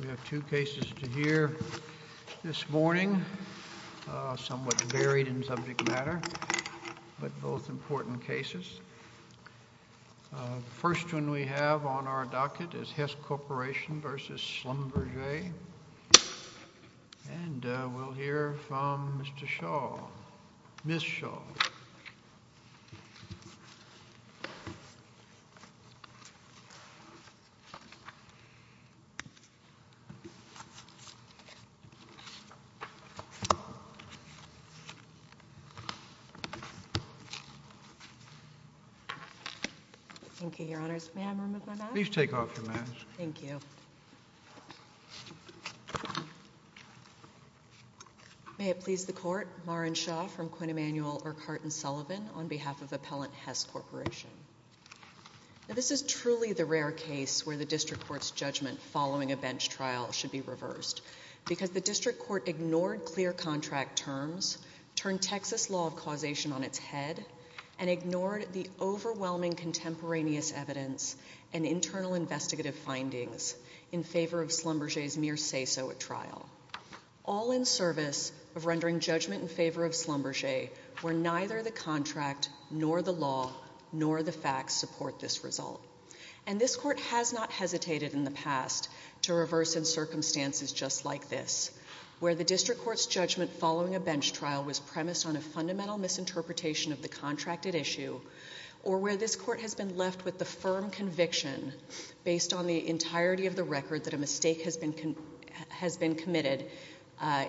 We have two cases to hear this morning, somewhat varied in subject matter, but both important cases. The first one we have on our docket is Hess Corporation v. Schlumberger. And we'll hear from Mr. Shaw, Ms. Shaw. Thank you. Thank you, Your Honors. May I remove my mask? Please take off your mask. Thank you. May it please the Court, Maren Shaw from Quinn Emanuel, Urquhart & Sullivan, on behalf of Appellant Hess Corporation. This is truly the rare case where the district court's judgment following a bench trial should be reversed, because the district court ignored clear contract terms, turned Texas law of causation on its head, and ignored the overwhelming contemporaneous evidence and internal investigative findings in favor of Schlumberger's mere say-so at trial, all in service of rendering judgment in favor of Schlumberger, where neither the contract nor the law nor the facts support this result. And this Court has not hesitated in the past to reverse in circumstances just like this, where the district court's judgment following a bench trial was premised on a fundamental misinterpretation of the contracted issue, or where this Court has been left with the firm conviction, based on the entirety of the record, that a mistake has been committed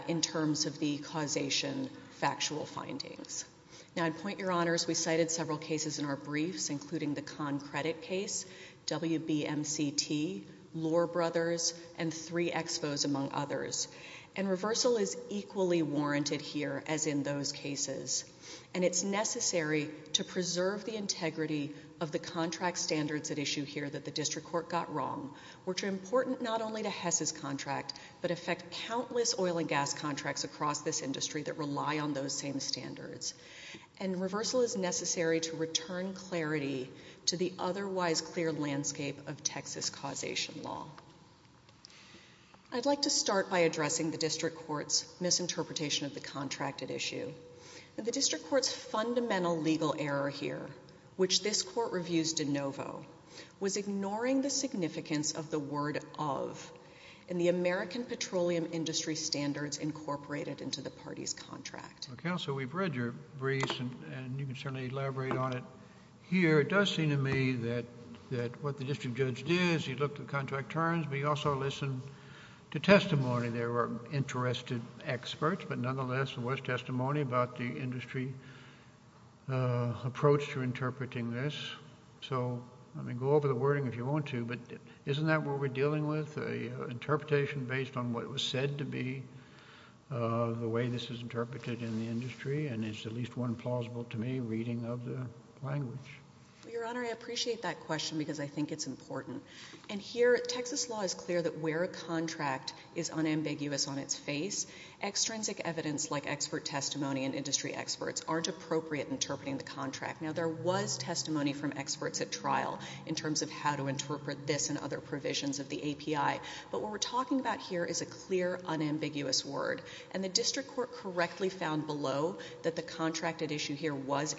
in terms of the causation factual findings. Now, I'd point your honors, we cited several cases in our briefs, including the Kahn Credit case, WBMCT, Lohr Brothers, and three expos, among others. And reversal is equally warranted here as in those cases. And it's necessary to preserve the integrity of the contract standards at issue here that the district court got wrong, which are important not only to Hess's contract, but affect countless oil and gas contracts across this industry that rely on those same standards. And reversal is necessary to return clarity to the otherwise clear landscape of Texas causation law. I'd like to start by addressing the district court's misinterpretation of the contracted issue. The district court's fundamental legal error here, which this Court reviews de novo, was ignoring the significance of the word of in the American petroleum industry standards incorporated into the party's contract. Counsel, we've read your briefs, and you can certainly elaborate on it here. It does seem to me that what the district judge did is he looked at contract terms, but he also listened to testimony. There were interested experts, but nonetheless, there was testimony about the industry approach to interpreting this. So, I mean, go over the wording if you want to, but isn't that what we're dealing with, an interpretation based on what was said to be the way this is interpreted in the industry? And it's at least one plausible, to me, reading of the language. Your Honor, I appreciate that question because I think it's important. And here, Texas law is clear that where a contract is unambiguous on its face, extrinsic evidence like expert testimony and industry experts aren't appropriate in interpreting the contract. Now, there was testimony from experts at trial in terms of how to interpret this and other provisions of the API, but what we're talking about here is a clear, unambiguous word, and the district court correctly found below that the contracted issue here was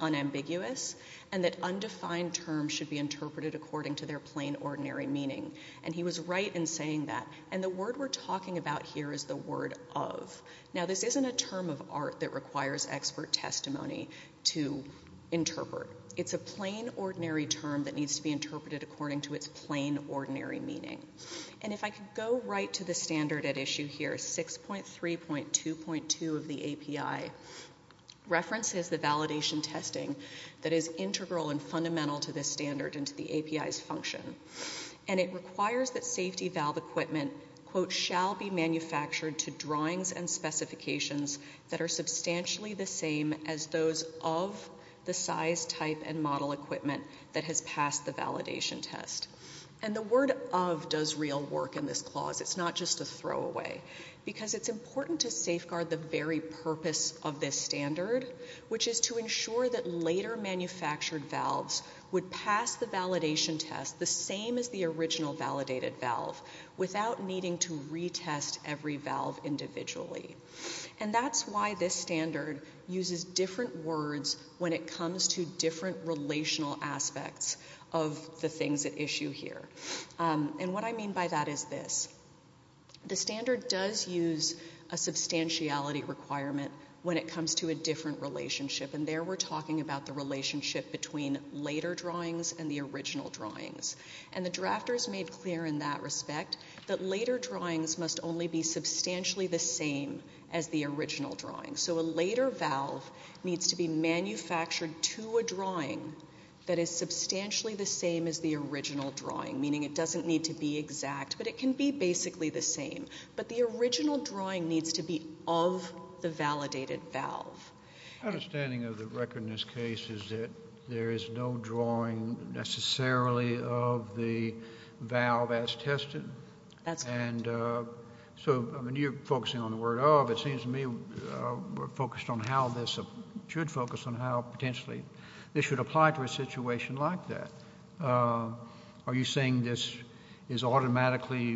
unambiguous and that undefined terms should be interpreted according to their plain, ordinary meaning. And he was right in saying that. And the word we're talking about here is the word of. Now, this isn't a term of art that requires expert testimony to interpret. It's a plain, ordinary term that needs to be interpreted according to its plain, ordinary meaning. And if I could go right to the standard at issue here, 6.3.2.2 of the API references the validation testing that is integral and fundamental to this standard and to the API's function. And it requires that safety valve equipment, quote, shall be manufactured to drawings and specifications that are substantially the same as those of the size, type, and model equipment that has passed the validation test. And the word of does real work in this clause. It's not just a throwaway. Because it's important to safeguard the very purpose of this standard, which is to ensure that later manufactured valves would pass the validation test the same as the original validated valve without needing to retest every valve individually. And that's why this standard uses different words when it comes to different relational aspects of the things at issue here. And what I mean by that is this. The standard does use a substantiality requirement when it comes to a different relationship. And there we're talking about the relationship between later drawings and the original drawings. And the drafters made clear in that respect that later drawings must only be substantially the same as the original drawings. So a later valve needs to be manufactured to a drawing that is substantially the same as the original drawing, meaning it doesn't need to be exact, but it can be basically the same. But the original drawing needs to be of the validated valve. My understanding of the record in this case is that there is no drawing necessarily of the valve as tested. That's correct. And so you're focusing on the word of. It seems to me we're focused on how this should focus on how potentially this should apply to a situation like that. Are you saying this is automatically,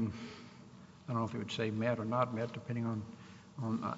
I don't know if you would say met or not met depending on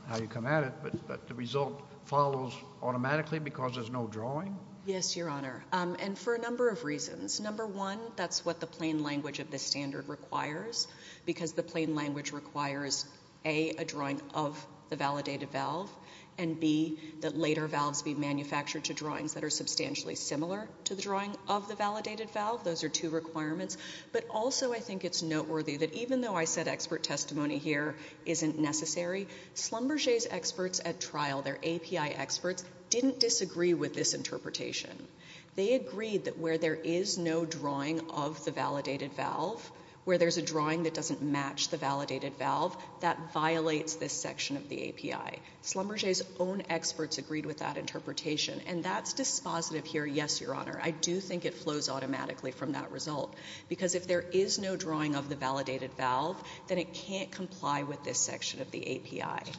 how you come at it, that the result follows automatically because there's no drawing? Yes, Your Honor, and for a number of reasons. Number one, that's what the plain language of this standard requires, because the plain language requires, A, a drawing of the validated valve, and, B, that later valves be manufactured to drawings that are substantially similar to the drawing of the validated valve. Those are two requirements. But also I think it's noteworthy that even though I said expert testimony here isn't necessary, Schlumberger's experts at trial, their API experts, didn't disagree with this interpretation. They agreed that where there is no drawing of the validated valve, where there's a drawing that doesn't match the validated valve, that violates this section of the API. Schlumberger's own experts agreed with that interpretation, and that's dispositive here, yes, Your Honor. I do think it flows automatically from that result, because if there is no drawing of the validated valve, then it can't comply with this section of the API.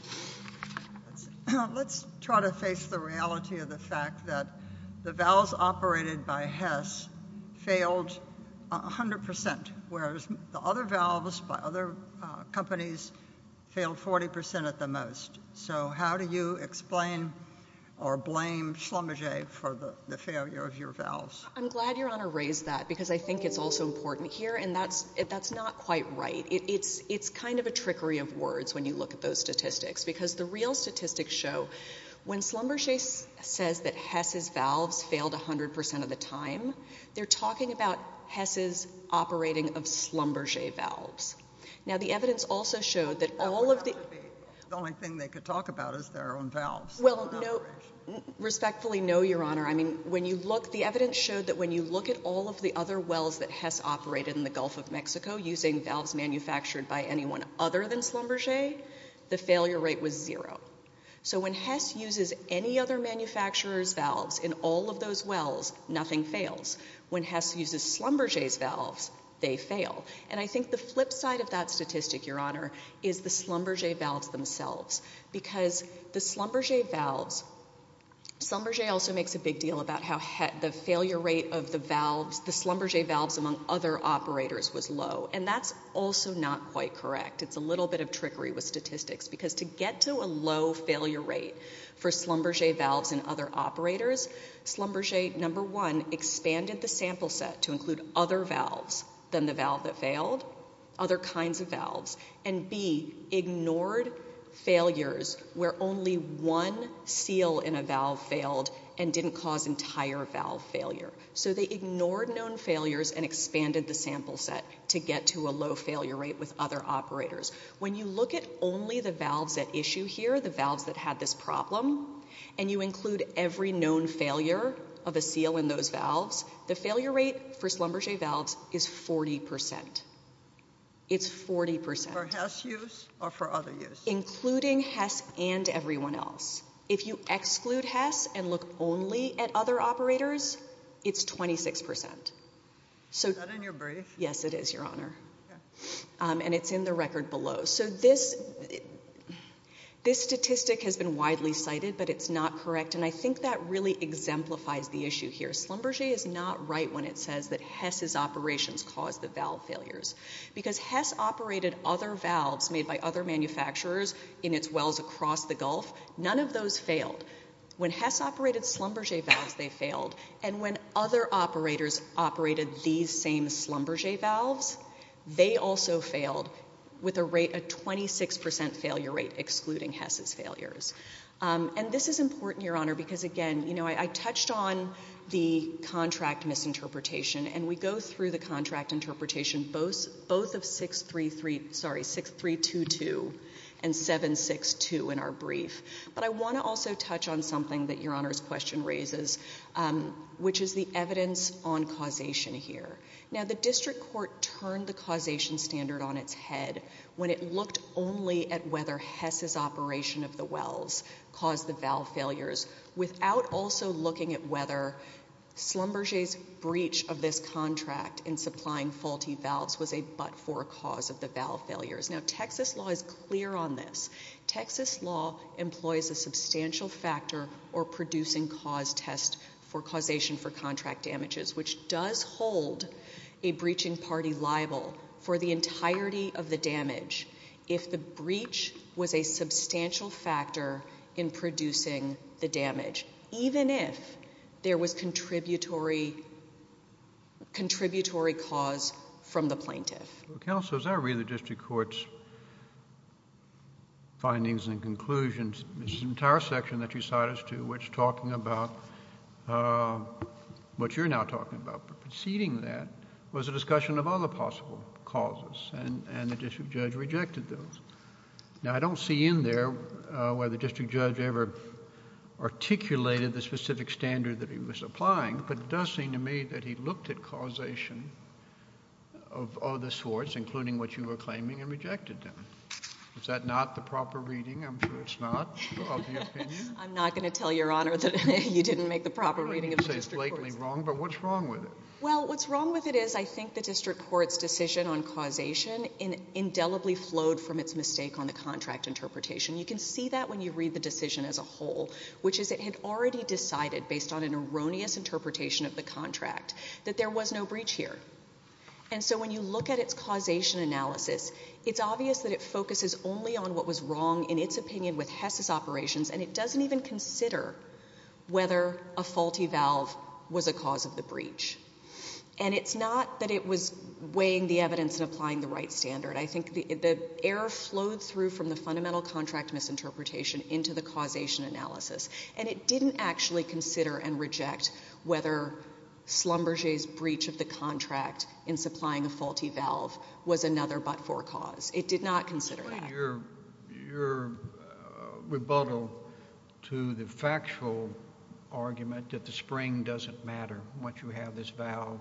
Let's try to face the reality of the fact that the valves operated by Hess failed 100%, whereas the other valves by other companies failed 40% at the most. So how do you explain or blame Schlumberger for the failure of your valves? I'm glad Your Honor raised that, because I think it's also important here, and that's not quite right. It's kind of a trickery of words when you look at those statistics, because the real statistics show when Schlumberger says that Hess's valves failed 100% of the time, they're talking about Hess's operating of Schlumberger valves. Now, the evidence also showed that all of the— The only thing they could talk about is their own valves. Well, respectfully, no, Your Honor. I mean, when you look—the evidence showed that when you look at all of the other wells that Hess operated in the Gulf of Mexico using valves manufactured by anyone other than Schlumberger, the failure rate was zero. So when Hess uses any other manufacturer's valves in all of those wells, nothing fails. When Hess uses Schlumberger's valves, they fail. And I think the flip side of that statistic, Your Honor, is the Schlumberger valves themselves, because the Schlumberger valves— Schlumberger also makes a big deal about how the failure rate of the valves, the Schlumberger valves among other operators, was low, and that's also not quite correct. It's a little bit of trickery with statistics, because to get to a low failure rate for Schlumberger valves and other operators, Schlumberger, number one, expanded the sample set to include other valves than the valve that failed, other kinds of valves, and, B, ignored failures where only one seal in a valve failed and didn't cause entire valve failure. So they ignored known failures and expanded the sample set to get to a low failure rate with other operators. When you look at only the valves at issue here, the valves that had this problem, and you include every known failure of a seal in those valves, the failure rate for Schlumberger valves is 40%. It's 40%. For Hess use or for other use? Including Hess and everyone else. If you exclude Hess and look only at other operators, it's 26%. Is that in your brief? Yes, it is, Your Honor. And it's in the record below. So this statistic has been widely cited, but it's not correct, and I think that really exemplifies the issue here. Schlumberger is not right when it says that Hess's operations caused the valve failures because Hess operated other valves made by other manufacturers in its wells across the Gulf. None of those failed. When Hess operated Schlumberger valves, they failed, and when other operators operated these same Schlumberger valves, they also failed with a rate of 26% failure rate excluding Hess's failures. And this is important, Your Honor, because, again, you know, I touched on the contract misinterpretation, and we go through the contract interpretation both of 6322 and 762 in our brief. But I want to also touch on something that Your Honor's question raises, which is the evidence on causation here. Now, the district court turned the causation standard on its head when it looked only at whether Hess's operation of the wells caused the valve failures without also looking at whether Schlumberger's breach of this contract in supplying faulty valves was a but-for cause of the valve failures. Now, Texas law is clear on this. Texas law employs a substantial factor or producing cause test for causation for contract damages, which does hold a breaching party liable for the entirety of the damage if the breach was a substantial factor in producing the damage, even if there was contributory cause from the plaintiff. Counsel, as I read the district court's findings and conclusions, this entire section that you cite us to which is talking about what you're now talking about, but preceding that was a discussion of other possible causes, and the district judge rejected those. Now, I don't see in there whether the district judge ever articulated the specific standard that he was applying, but it does seem to me that he looked at causation of other sorts, including what you were claiming, and rejected them. Is that not the proper reading? I'm sure it's not, of your opinion. I'm not going to tell Your Honor that you didn't make the proper reading of the district court's. You say it's blatantly wrong, but what's wrong with it? Well, what's wrong with it is I think the district court's decision on causation indelibly flowed from its mistake on the contract interpretation. You can see that when you read the decision as a whole, which is it had already decided, based on an erroneous interpretation of the contract, that there was no breach here. And so when you look at its causation analysis, it's obvious that it focuses only on what was wrong, in its opinion, with Hess's operations, and it doesn't even consider whether a faulty valve was a cause of the breach. And it's not that it was weighing the evidence and applying the right standard. I think the error flowed through from the fundamental contract misinterpretation into the causation analysis, and it didn't actually consider and reject whether Schlumberger's breach of the contract in supplying a faulty valve was another but-for cause. It did not consider that. But your rebuttal to the factual argument that the spring doesn't matter once you have this valve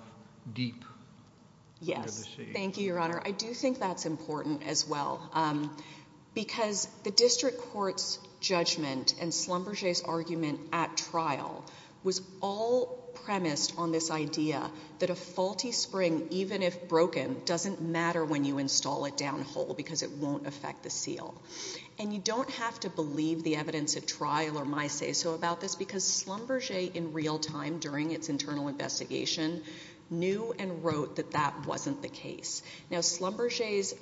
deep into the sea. Yes. Thank you, Your Honor. I do think that's important as well, because the district court's judgment and Schlumberger's argument at trial was all premised on this idea that a faulty spring, even if broken, doesn't matter when you install it downhole because it won't affect the seal. And you don't have to believe the evidence at trial or my say-so about this because Schlumberger, in real time, during its internal investigation, knew and wrote that that wasn't the case. Now, Schlumberger's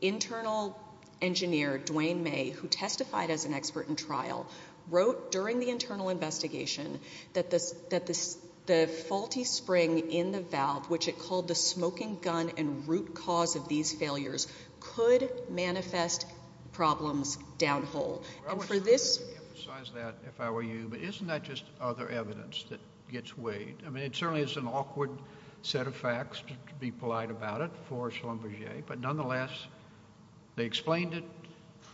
internal engineer, Dwayne May, who testified as an expert in trial, wrote during the internal investigation that the faulty spring in the valve, which it called the smoking gun and root cause of these failures, could manifest problems downhole. I would like to emphasize that, if I were you, but isn't that just other evidence that gets weighed? I mean, it certainly is an awkward set of facts, to be polite about it, for Schlumberger. But nonetheless, they explained it.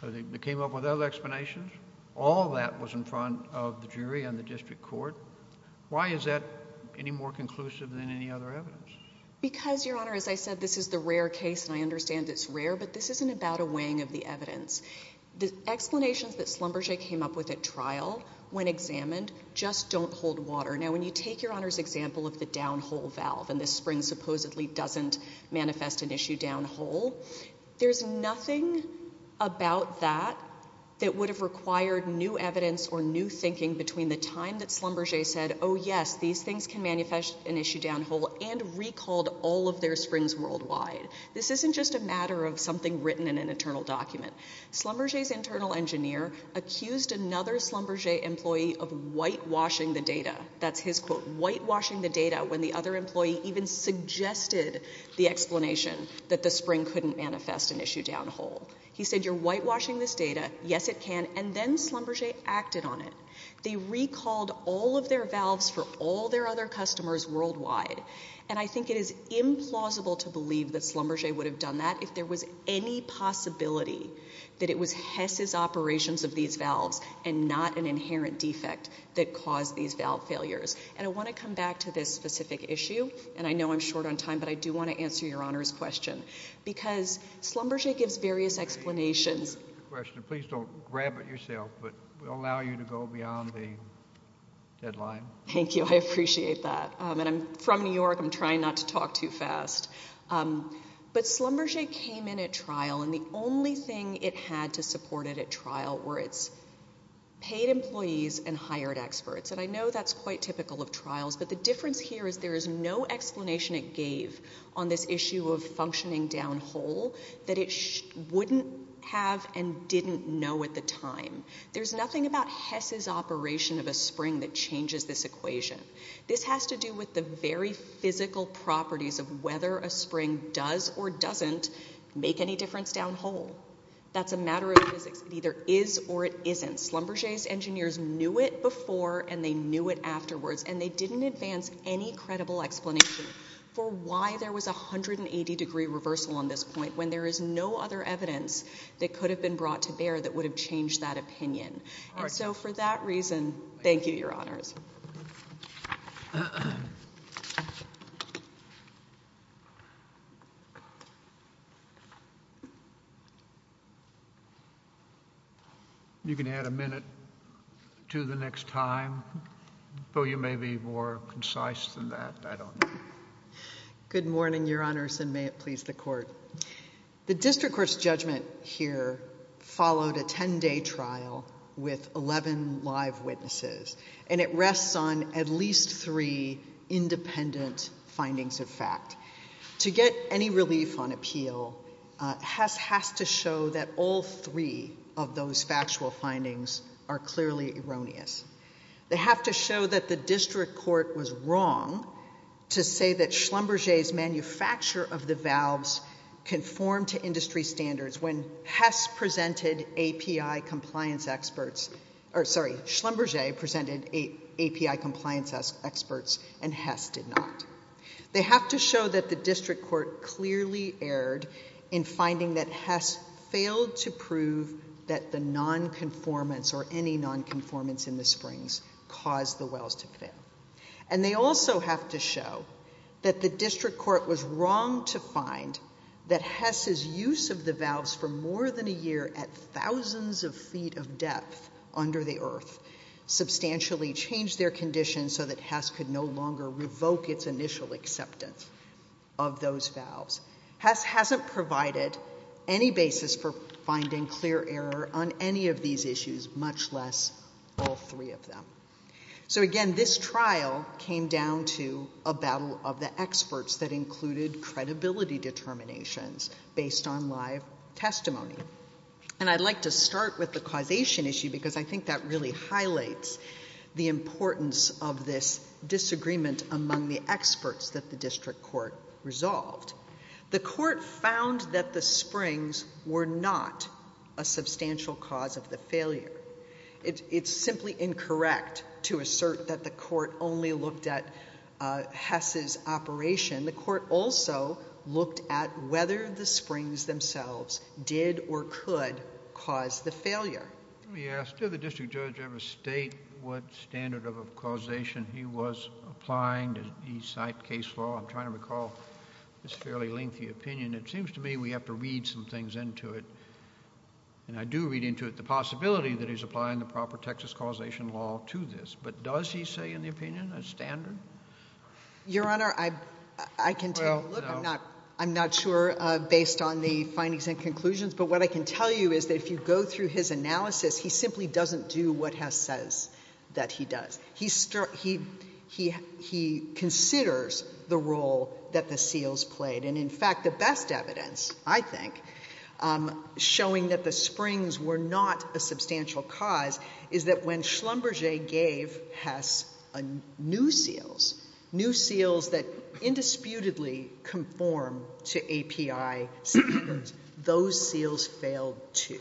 They came up with other explanations. All that was in front of the jury and the district court. Why is that any more conclusive than any other evidence? Because, Your Honor, as I said, this is the rare case, and I understand it's rare, but this isn't about a weighing of the evidence. The explanations that Schlumberger came up with at trial, when examined, just don't hold water. Now, when you take Your Honor's example of the downhole valve, and this spring supposedly doesn't manifest an issue downhole, there's nothing about that that would have required new evidence or new thinking between the time that Schlumberger said, oh, yes, these things can manifest an issue downhole, and recalled all of their springs worldwide. This isn't just a matter of something written in an internal document. Schlumberger's internal engineer accused another Schlumberger employee of whitewashing the data. That's his quote, whitewashing the data, when the other employee even suggested the explanation that the spring couldn't manifest an issue downhole. He said, you're whitewashing this data, yes it can, and then Schlumberger acted on it. They recalled all of their valves for all their other customers worldwide. And I think it is implausible to believe that Schlumberger would have done that if there was any possibility that it was Hess's operations of these valves and not an inherent defect that caused these valve failures. And I want to come back to this specific issue, and I know I'm short on time, but I do want to answer Your Honor's question, because Schlumberger gives various explanations. Please don't grab it yourself, but we'll allow you to go beyond the deadline. Thank you. I appreciate that. And I'm from New York. I'm trying not to talk too fast. But Schlumberger came in at trial, and the only thing it had to support it at trial were its paid employees and hired experts. And I know that's quite typical of trials, but the difference here is there is no explanation it gave on this issue of functioning downhole that it wouldn't have and didn't know at the time. There's nothing about Hess's operation of a spring that changes this equation. This has to do with the very physical properties of whether a spring does or doesn't make any difference downhole. That's a matter of physics. It either is or it isn't. Schlumberger's engineers knew it before and they knew it afterwards, and they didn't advance any credible explanation for why there was a 180-degree reversal on this point when there is no other evidence that could have been brought to bear that would have changed that opinion. And so for that reason, thank you, Your Honors. You can add a minute to the next time. Though you may be more concise than that, I don't know. Good morning, Your Honors, and may it please the Court. The district court's judgment here followed a 10-day trial with 11 live witnesses, and it rests on at least three independent findings of fact. To get any relief on appeal, Hess has to show that all three of those factual findings are clearly erroneous. They have to show that the district court was wrong to say that Schlumberger's manufacture of the valves conformed to industry standards when Hess presented API compliance experts— or, sorry, Schlumberger presented API compliance experts and Hess did not. They have to show that the district court clearly erred in finding that Hess failed to prove that the nonconformance or any nonconformance in the springs caused the wells to fail. And they also have to show that the district court was wrong to find that Hess's use of the valves for more than a year at thousands of feet of depth under the earth substantially changed their condition so that Hess could no longer revoke its initial acceptance of those valves. Hess hasn't provided any basis for finding clear error on any of these issues, much less all three of them. So again, this trial came down to a battle of the experts that included credibility determinations based on live testimony. And I'd like to start with the causation issue because I think that really highlights the importance of this disagreement among the experts that the district court resolved. The court found that the springs were not a substantial cause of the failure. It's simply incorrect to assert that the court only looked at Hess's operation. The court also looked at whether the springs themselves did or could cause the failure. Let me ask, did the district judge ever state what standard of causation he was applying? Did he cite case law? I'm trying to recall this fairly lengthy opinion. It seems to me we have to read some things into it. And I do read into it the possibility that he's applying the proper Texas causation law to this. But does he say in the opinion a standard? Your Honor, I can tell you. Look, I'm not sure based on the findings and conclusions. But what I can tell you is that if you go through his analysis, he simply doesn't do what Hess says that he does. He considers the role that the seals played. And, in fact, the best evidence, I think, showing that the springs were not a substantial cause, is that when Schlumberger gave Hess new seals, new seals that indisputably conform to API standards, those seals failed too.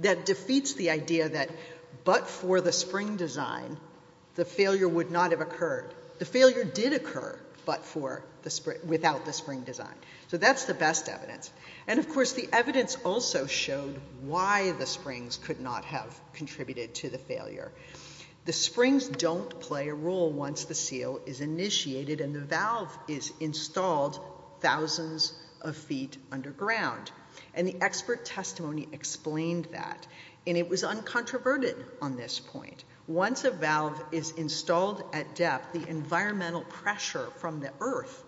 That defeats the idea that but for the spring design, the failure would not have occurred. The failure did occur, but without the spring design. So that's the best evidence. And, of course, the evidence also showed why the springs could not have contributed to the failure. The springs don't play a role once the seal is initiated and the valve is installed thousands of feet underground. And the expert testimony explained that. And it was uncontroverted on this point. Once a valve is installed at depth, the environmental pressure from the earth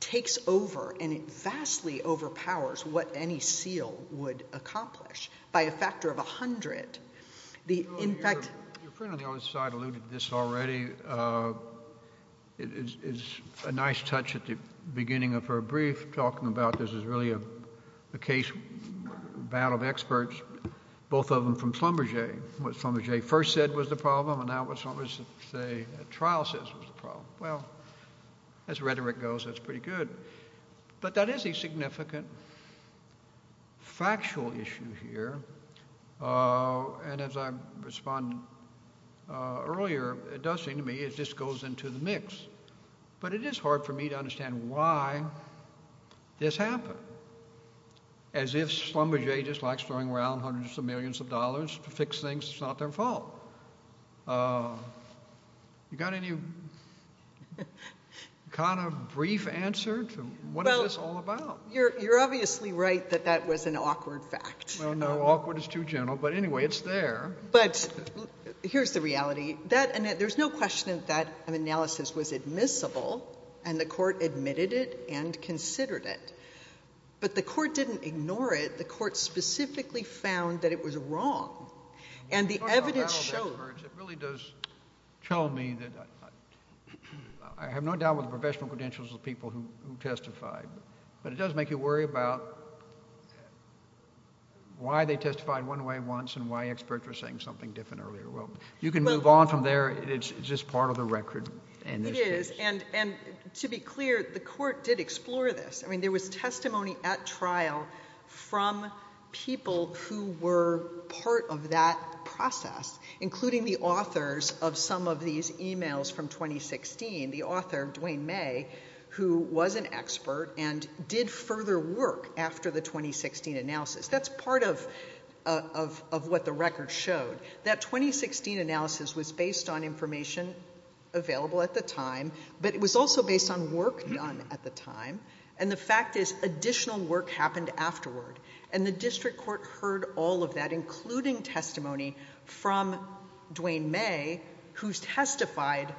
takes over and it vastly overpowers what any seal would accomplish by a factor of 100. Your friend on the other side alluded to this already. It's a nice touch at the beginning of her brief, talking about this is really a case, a battle of experts, both of them from Schlumberger. What Schlumberger first said was the problem and now what Schlumberger's trial says was the problem. Well, as rhetoric goes, that's pretty good. But that is a significant factual issue here. And as I responded earlier, it does seem to me it just goes into the mix. But it is hard for me to understand why this happened. As if Schlumberger just likes throwing around hundreds of millions of dollars to fix things, it's not their fault. You got any kind of brief answer to what is this all about? Well, you're obviously right that that was an awkward fact. Well, no, awkward is too general. But anyway, it's there. But here's the reality. There's no question that that analysis was admissible, and the court admitted it and considered it. But the court didn't ignore it. The court specifically found that it was wrong. And the evidence showed. It really does tell me that I have no doubt with the professional credentials of the people who testified. But it does make you worry about why they testified one way once and why experts were saying something different earlier. Well, you can move on from there. It's just part of the record. It is. And to be clear, the court did explore this. I mean, there was testimony at trial from people who were part of that process, including the authors of some of these e-mails from 2016. The author, Duane May, who was an expert and did further work after the 2016 analysis. That's part of what the record showed. That 2016 analysis was based on information available at the time, but it was also based on work done at the time. And the fact is additional work happened afterward. And the district court heard all of that, including testimony from Duane May, who testified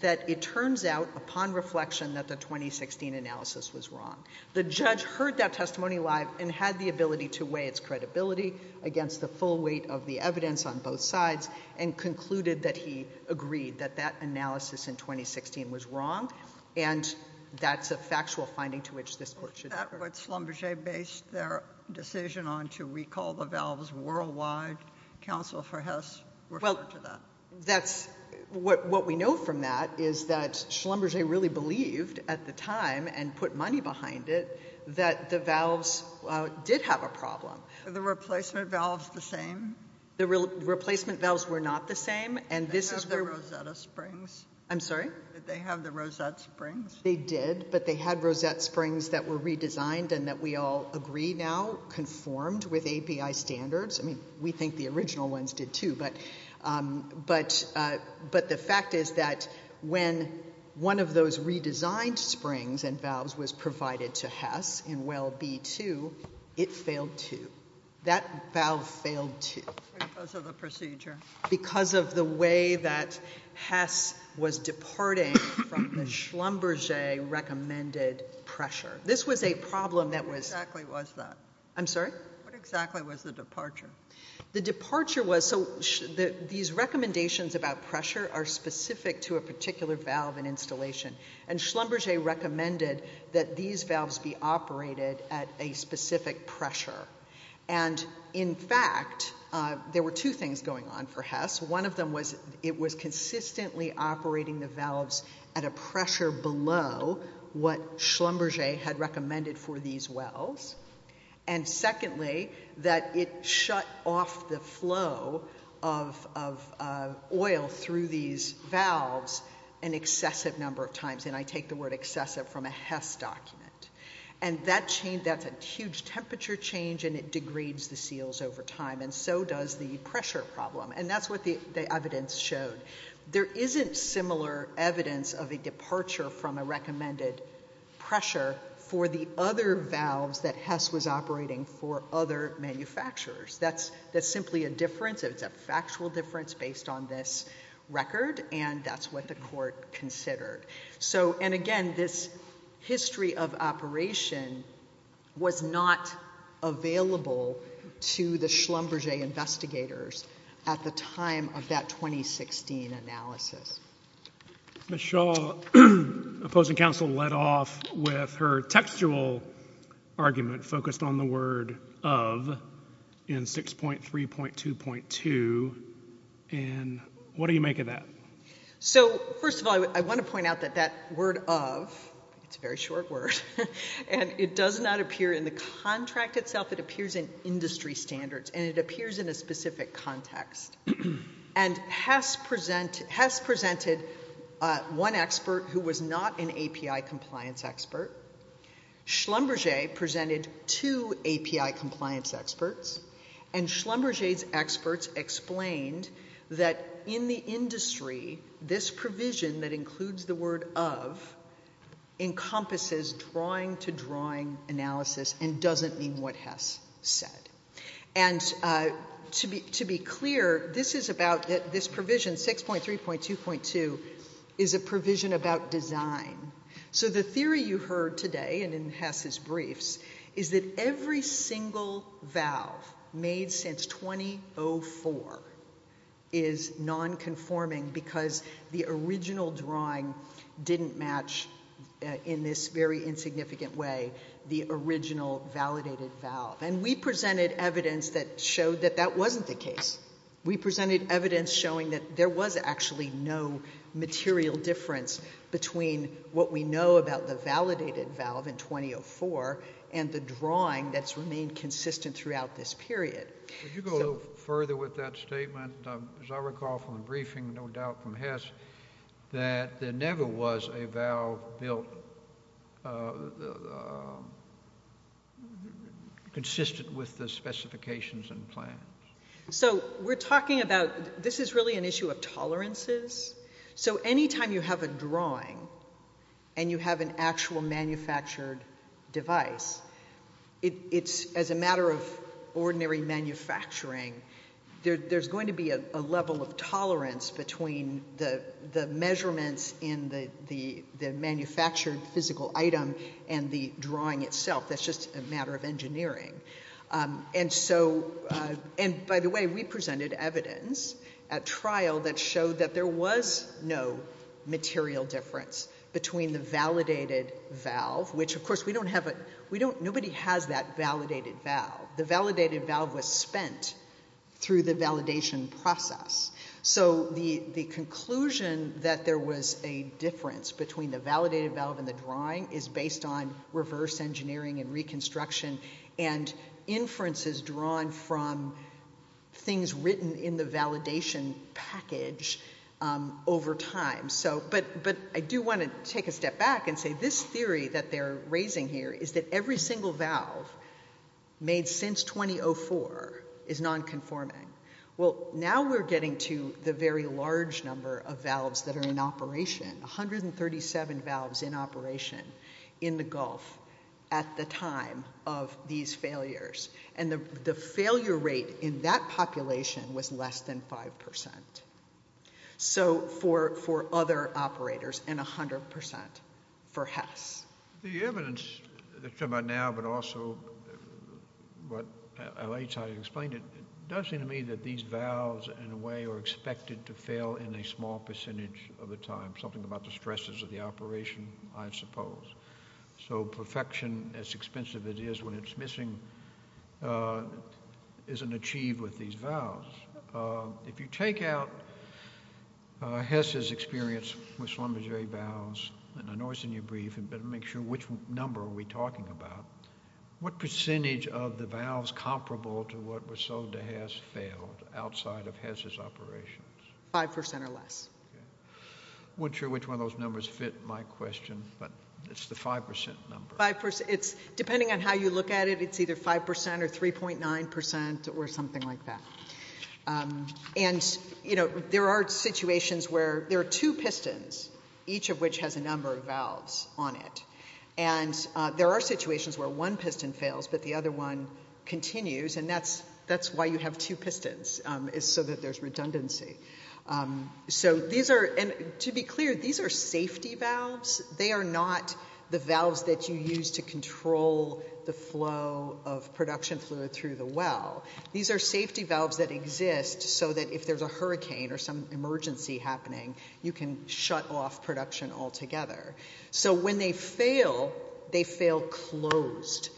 that it turns out, upon reflection, that the 2016 analysis was wrong. The judge heard that testimony live and had the ability to weigh its credibility against the full weight of the evidence on both sides and concluded that he agreed that that analysis in 2016 was wrong. And that's a factual finding to which this court should refer. Is that what Schlumberger based their decision on, to recall the valves worldwide? Counsel for Hess referred to that. What we know from that is that Schlumberger really believed at the time and put money behind it that the valves did have a problem. Were the replacement valves the same? The replacement valves were not the same. Did they have the Rosetta Springs? I'm sorry? Did they have the Rosetta Springs? They did, but they had Rosetta Springs that were redesigned and that we all agree now conformed with API standards. I mean, we think the original ones did, too. But the fact is that when one of those redesigned springs and valves was provided to Hess in Well B-2, it failed, too. That valve failed, too. Because of the procedure. Because of the way that Hess was departing from the Schlumberger recommended pressure. This was a problem that was- What exactly was that? I'm sorry? What exactly was the departure? The departure was, so these recommendations about pressure are specific to a particular valve and installation. And Schlumberger recommended that these valves be operated at a specific pressure. And in fact, there were two things going on for Hess. One of them was it was consistently operating the valves at a pressure below what Schlumberger had recommended for these wells. And secondly, that it shut off the flow of oil through these valves an excessive number of times. And I take the word excessive from a Hess document. And that's a huge temperature change and it degrades the seals over time. And so does the pressure problem. And that's what the evidence showed. There isn't similar evidence of a departure from a recommended pressure for the other valves that Hess was operating for other manufacturers. That's simply a difference. It's a factual difference based on this record. And that's what the court considered. And again, this history of operation was not available to the Schlumberger investigators at the time of that 2016 analysis. Ms. Shaw, opposing counsel, led off with her textual argument focused on the word of in 6.3.2.2. And what do you make of that? So, first of all, I want to point out that that word of, it's a very short word, and it does not appear in the contract itself. It appears in industry standards. And it appears in a specific context. And Hess presented one expert who was not an API compliance expert. Schlumberger presented two API compliance experts. And Schlumberger's experts explained that in the industry, this provision that includes the word of encompasses drawing-to-drawing analysis and doesn't mean what Hess said. And to be clear, this is about this provision, 6.3.2.2, is a provision about design. So the theory you heard today and in Hess's briefs is that every single valve made since 2004 is nonconforming because the original drawing didn't match, in this very insignificant way, the original validated valve. And we presented evidence that showed that that wasn't the case. We presented evidence showing that there was actually no material difference between what we know about the validated valve in 2004 and the drawing that's remained consistent throughout this period. Would you go a little further with that statement? As I recall from the briefing, no doubt from Hess, that there never was a valve built consistent with the specifications and plans. So we're talking about this is really an issue of tolerances. So any time you have a drawing and you have an actual manufactured device, it's, as a matter of ordinary manufacturing, there's going to be a level of tolerance between the measurements in the manufactured physical item and the drawing itself. That's just a matter of engineering. And by the way, we presented evidence at trial that showed that there was no material difference between the validated valve, which, of course, nobody has that validated valve. The validated valve was spent through the validation process. So the conclusion that there was a difference between the validated valve and the drawing is based on reverse engineering and reconstruction and inferences drawn from things written in the validation package over time. But I do want to take a step back and say this theory that they're raising here is that every single valve made since 2004 is nonconforming. Well, now we're getting to the very large number of valves that are in operation, 137 valves in operation in the Gulf at the time of these failures. And the failure rate in that population was less than 5%. So for other operators and 100% for Hess. The evidence that you're talking about now, but also what I explained, it does seem to me that these valves, in a way, are expected to fail in a small percentage of the time. Something about the stresses of the operation, I suppose. So perfection, as expensive as it is when it's missing, isn't achieved with these valves. If you take out Hess's experience with Schlumberger valves, and I know it's in your brief, but make sure which number are we talking about. What percentage of the valves comparable to what was sold to Hess failed outside of Hess's operations? 5% or less. I'm not sure which one of those numbers fit my question, but it's the 5% number. Depending on how you look at it, it's either 5% or 3.9% or something like that. And there are situations where there are two pistons, each of which has a number of valves on it. And there are situations where one piston fails, but the other one continues, and that's why you have two pistons, so that there's redundancy. To be clear, these are safety valves. They are not the valves that you use to control the flow of production fluid through the well. These are safety valves that exist so that if there's a hurricane or some emergency happening, you can shut off production altogether. So when they fail, they fail closed.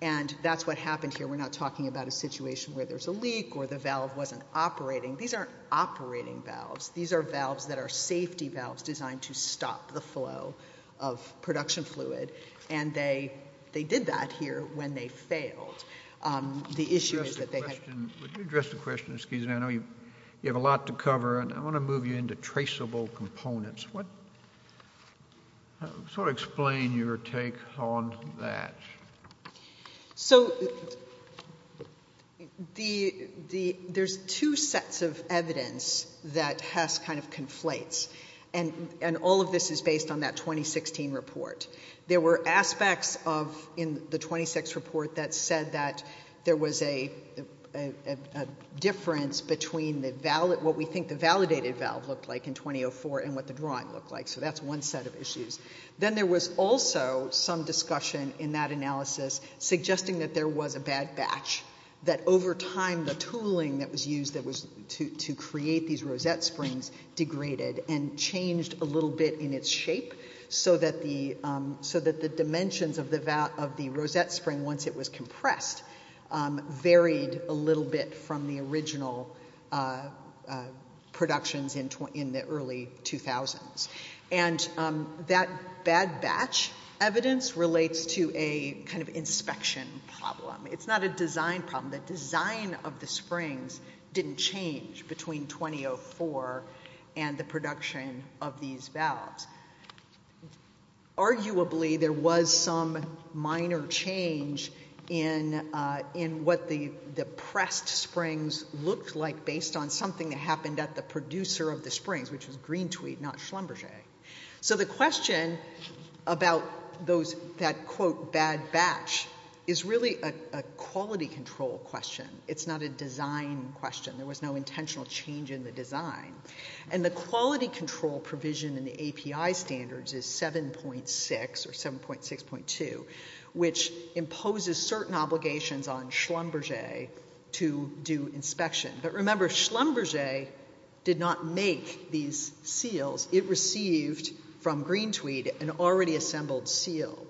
And that's what happened here. We're not talking about a situation where there's a leak or the valve wasn't operating. These aren't operating valves. These are valves that are safety valves designed to stop the flow of production fluid, and they did that here when they failed. The issue is that they had... Would you address the question? Excuse me. I know you have a lot to cover, and I want to move you into traceable components. Sort of explain your take on that. So there's two sets of evidence that has kind of conflates, and all of this is based on that 2016 report. There were aspects of the 26th report that said that there was a difference between what we think the validated valve looked like in 2004 and what the drawing looked like. So that's one set of issues. Then there was also some discussion in that analysis suggesting that there was a bad batch, that over time the tooling that was used to create these rosette springs degraded and changed a little bit in its shape so that the dimensions of the rosette spring, once it was compressed, varied a little bit from the original productions in the early 2000s. And that bad batch evidence relates to a kind of inspection problem. It's not a design problem. The design of the springs didn't change between 2004 and the production of these valves. Arguably, there was some minor change in what the pressed springs looked like based on something that happened at the producer of the springs, which was Green Tweed, not Schlumberger. So the question about that, quote, bad batch is really a quality control question. It's not a design question. There was no intentional change in the design. And the quality control provision in the API standards is 7.6 or 7.6.2, which imposes certain obligations on Schlumberger to do inspection. But remember, Schlumberger did not make these seals. It received from Green Tweed an already assembled seal.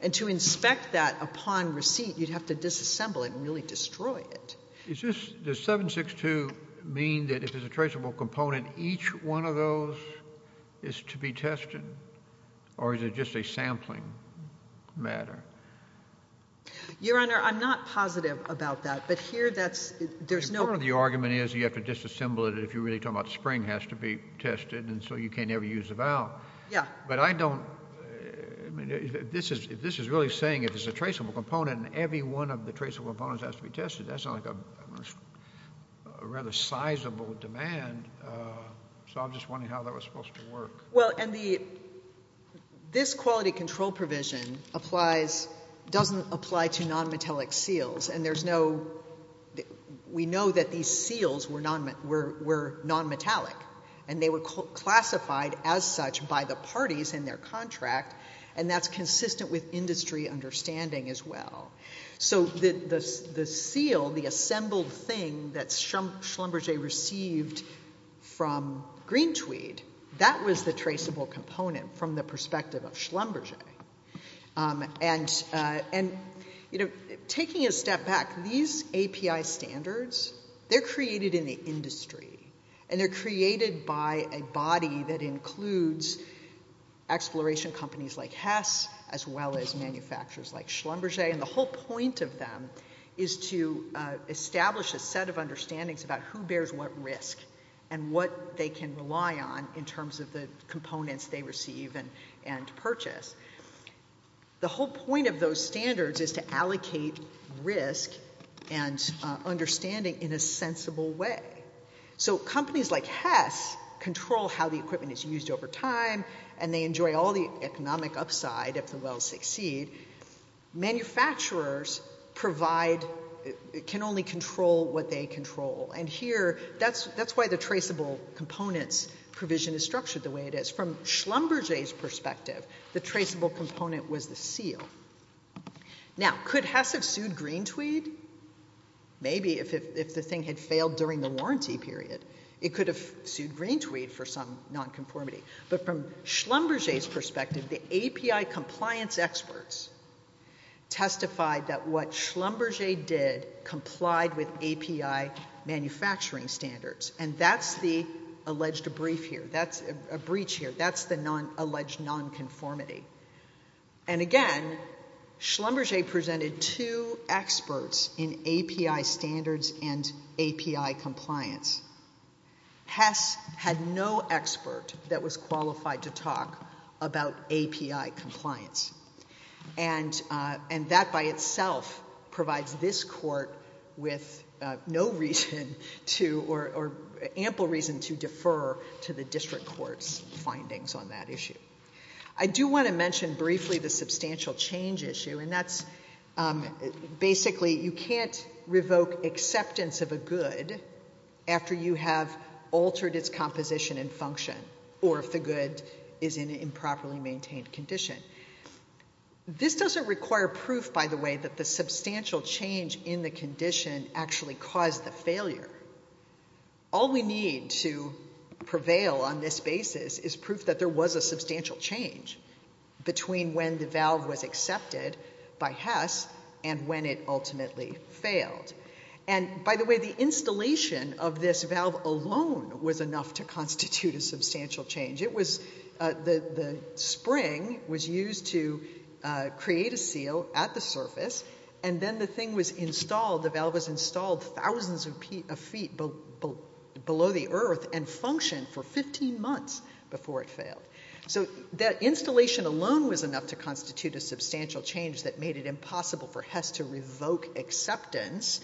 And to inspect that upon receipt, you'd have to disassemble it and really destroy it. Does 7.6.2 mean that if there's a traceable component, each one of those is to be tested? Or is it just a sampling matter? Your Honor, I'm not positive about that. But here, there's no— Part of the argument is you have to disassemble it if you're really talking about the spring has to be tested, and so you can't ever use the valve. Yeah. But I don't—I mean, if this is really saying if there's a traceable component and every one of the traceable components has to be tested, that's not like a rather sizable demand. So I'm just wondering how that was supposed to work. Well, and the—this quality control provision applies—doesn't apply to nonmetallic seals. And there's no—we know that these seals were nonmetallic. And they were classified as such by the parties in their contract, and that's consistent with industry understanding as well. So the seal, the assembled thing that Schlumberger received from Green Tweed, that was the traceable component from the perspective of Schlumberger. And, you know, taking a step back, these API standards, they're created in the industry. And they're created by a body that includes exploration companies like Hess as well as manufacturers like Schlumberger. And the whole point of them is to establish a set of understandings about who bears what risk and what they can rely on in terms of the components they receive and purchase. The whole point of those standards is to allocate risk and understanding in a sensible way. So companies like Hess control how the equipment is used over time, and they enjoy all the economic upside if the wells succeed. Manufacturers provide—can only control what they control. And here, that's why the traceable components provision is structured the way it is. From Schlumberger's perspective, the traceable component was the seal. Now, could Hess have sued Green Tweed? Maybe, if the thing had failed during the warranty period. It could have sued Green Tweed for some nonconformity. But from Schlumberger's perspective, the API compliance experts testified that what Schlumberger did complied with API manufacturing standards. And that's the alleged breach here. That's the alleged nonconformity. And again, Schlumberger presented two experts in API standards and API compliance. Hess had no expert that was qualified to talk about API compliance. And that by itself provides this court with no reason to—or ample reason to defer to the district court's findings on that issue. I do want to mention briefly the substantial change issue, and that's—basically, you can't revoke acceptance of a good after you have altered its composition and function. Or if the good is in an improperly maintained condition. This doesn't require proof, by the way, that the substantial change in the condition actually caused the failure. All we need to prevail on this basis is proof that there was a substantial change between when the valve was accepted by Hess and when it ultimately failed. And, by the way, the installation of this valve alone was enough to constitute a substantial change. It was—the spring was used to create a seal at the surface, and then the thing was installed—the valve was installed thousands of feet below the earth and functioned for 15 months before it failed. So that installation alone was enough to constitute a substantial change that made it impossible for Hess to revoke acceptance.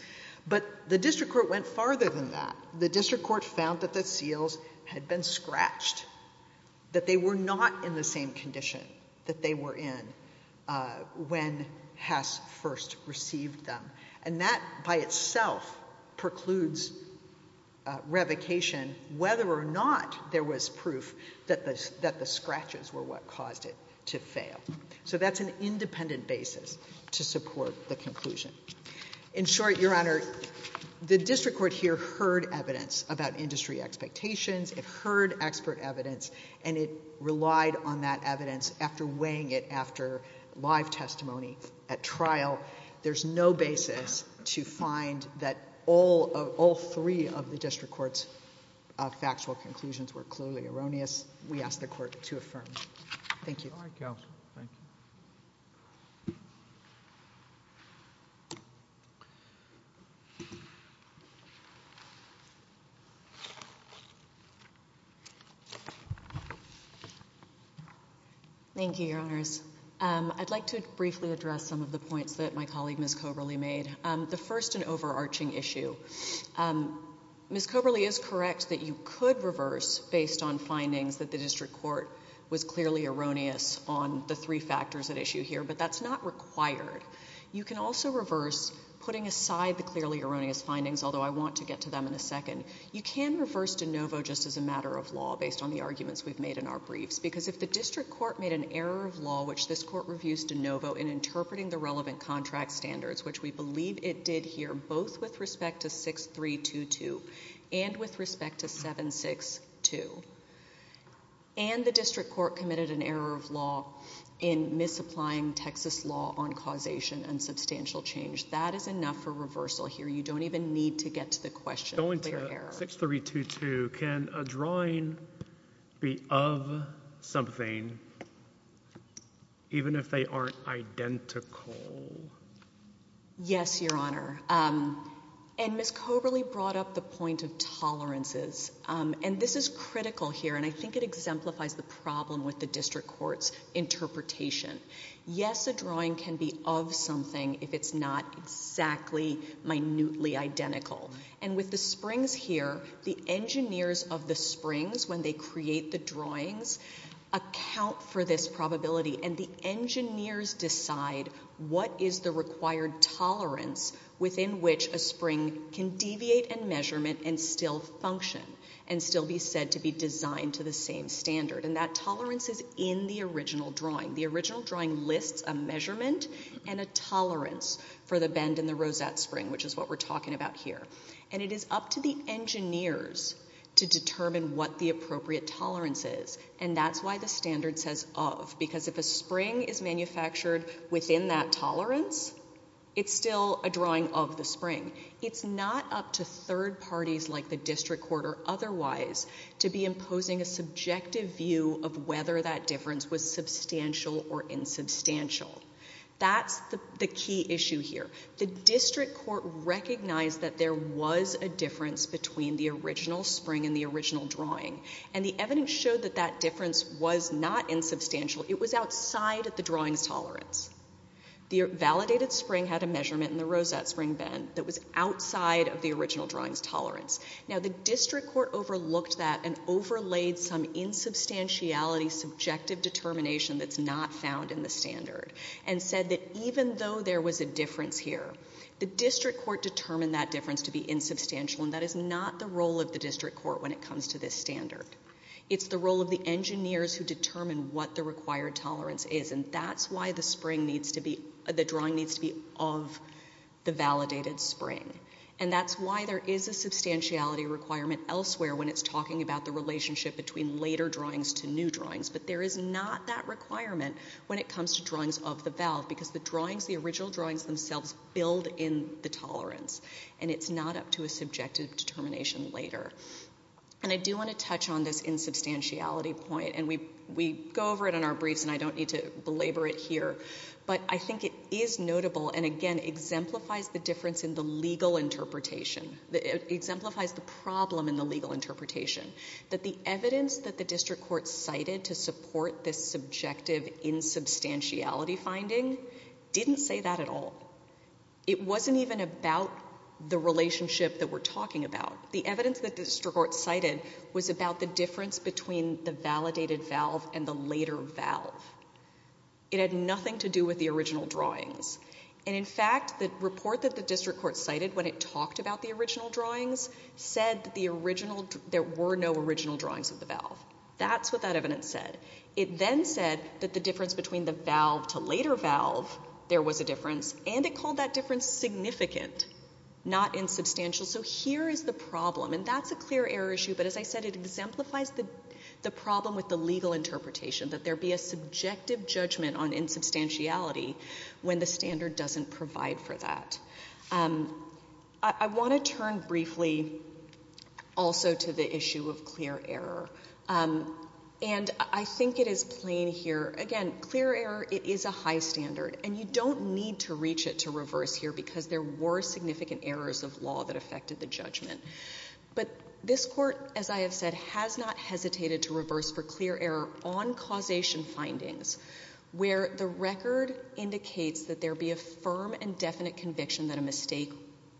But the district court went farther than that. The district court found that the seals had been scratched, that they were not in the same condition that they were in when Hess first received them. And that, by itself, precludes revocation whether or not there was proof that the scratches were what caused it to fail. So that's an independent basis to support the conclusion. In short, Your Honor, the district court here heard evidence about industry expectations. It heard expert evidence, and it relied on that evidence after weighing it after live testimony at trial. There's no basis to find that all three of the district court's factual conclusions were clearly erroneous. We ask the court to affirm. Thank you. All right, counsel. Thank you. Thank you, Your Honors. I'd like to briefly address some of the points that my colleague, Ms. Coberly, made. The first, an overarching issue. Ms. Coberly is correct that you could reverse based on findings that the district court was clearly erroneous on the three factors at issue here, but that's not required. You can also reverse putting aside the clearly erroneous findings, although I want to get to them in a second. You can reverse de novo just as a matter of law based on the arguments we've made in our briefs. Because if the district court made an error of law, which this court reviews de novo in interpreting the relevant contract standards, which we believe it did here, both with respect to 6322 and with respect to 762, and the district court committed an error of law in misapplying Texas law on causation and substantial change, that is enough for reversal here. You don't even need to get to the question of clear error. 6322, can a drawing be of something even if they aren't identical? Yes, Your Honor. And Ms. Coberly brought up the point of tolerances. And this is critical here, and I think it exemplifies the problem with the district court's interpretation. Yes, a drawing can be of something if it's not exactly minutely identical. And with the springs here, the engineers of the springs, when they create the drawings, account for this probability. And the engineers decide what is the required tolerance within which a spring can deviate in measurement and still function and still be said to be designed to the same standard. And that tolerance is in the original drawing. The original drawing lists a measurement and a tolerance for the bend in the rosette spring, which is what we're talking about here. And it is up to the engineers to determine what the appropriate tolerance is. And that's why the standard says of, because if a spring is manufactured within that tolerance, it's still a drawing of the spring. It's not up to third parties like the district court or otherwise to be imposing a subjective view of whether that difference was substantial or insubstantial. That's the key issue here. The district court recognized that there was a difference between the original spring and the original drawing. And the evidence showed that that difference was not insubstantial. It was outside the drawing's tolerance. The validated spring had a measurement in the rosette spring bend that was outside of the original drawing's tolerance. Now, the district court overlooked that and overlaid some insubstantiality, subjective determination that's not found in the standard and said that even though there was a difference here, the district court determined that difference to be insubstantial. And that is not the role of the district court when it comes to this standard. It's the role of the engineers who determine what the required tolerance is. And that's why the drawing needs to be of the validated spring. And that's why there is a substantiality requirement elsewhere when it's talking about the relationship between later drawings to new drawings. But there is not that requirement when it comes to drawings of the valve because the original drawings themselves build in the tolerance. And it's not up to a subjective determination later. And I do want to touch on this insubstantiality point. And we go over it in our briefs and I don't need to belabor it here. But I think it is notable and, again, exemplifies the difference in the legal interpretation. It exemplifies the problem in the legal interpretation. That the evidence that the district court cited to support this subjective insubstantiality finding didn't say that at all. It wasn't even about the relationship that we're talking about. The evidence that the district court cited was about the difference between the validated valve and the later valve. It had nothing to do with the original drawings. And, in fact, the report that the district court cited when it talked about the original drawings said that there were no original drawings of the valve. That's what that evidence said. It then said that the difference between the valve to later valve, there was a difference. And it called that difference significant, not insubstantial. So here is the problem. And that's a clear error issue. But, as I said, it exemplifies the problem with the legal interpretation. That there be a subjective judgment on insubstantiality when the standard doesn't provide for that. I want to turn briefly also to the issue of clear error. And I think it is plain here. Again, clear error is a high standard. And you don't need to reach it to reverse here because there were significant errors of law that affected the judgment. But this court, as I have said, has not hesitated to reverse for clear error on causation findings where the record indicates that there be a firm and definite conviction that a mistake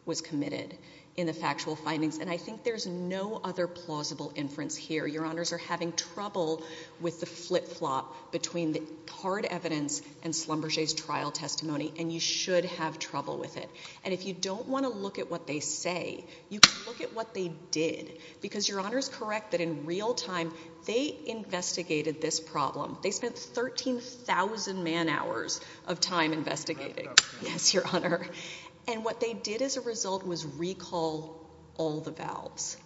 was committed in the factual findings. And I think there's no other plausible inference here. Your honors are having trouble with the flip-flop between the hard evidence and Schlumberger's trial testimony. And you should have trouble with it. And if you don't want to look at what they say, you can look at what they did. Because your honor is correct that in real time they investigated this problem. They spent 13,000 man hours of time investigating. Yes, your honor. And what they did as a result was recall all the valves.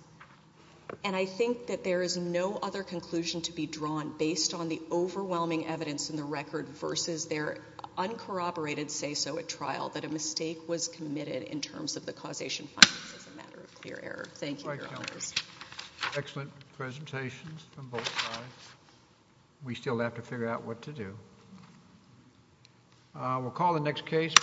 And I think that there is no other conclusion to be drawn based on the overwhelming evidence in the record versus their uncorroborated say-so at trial that a mistake was committed in terms of the causation findings as a matter of clear error. Thank you, your honors. Excellent presentations from both sides. We still have to figure out what to do. We'll call the next case.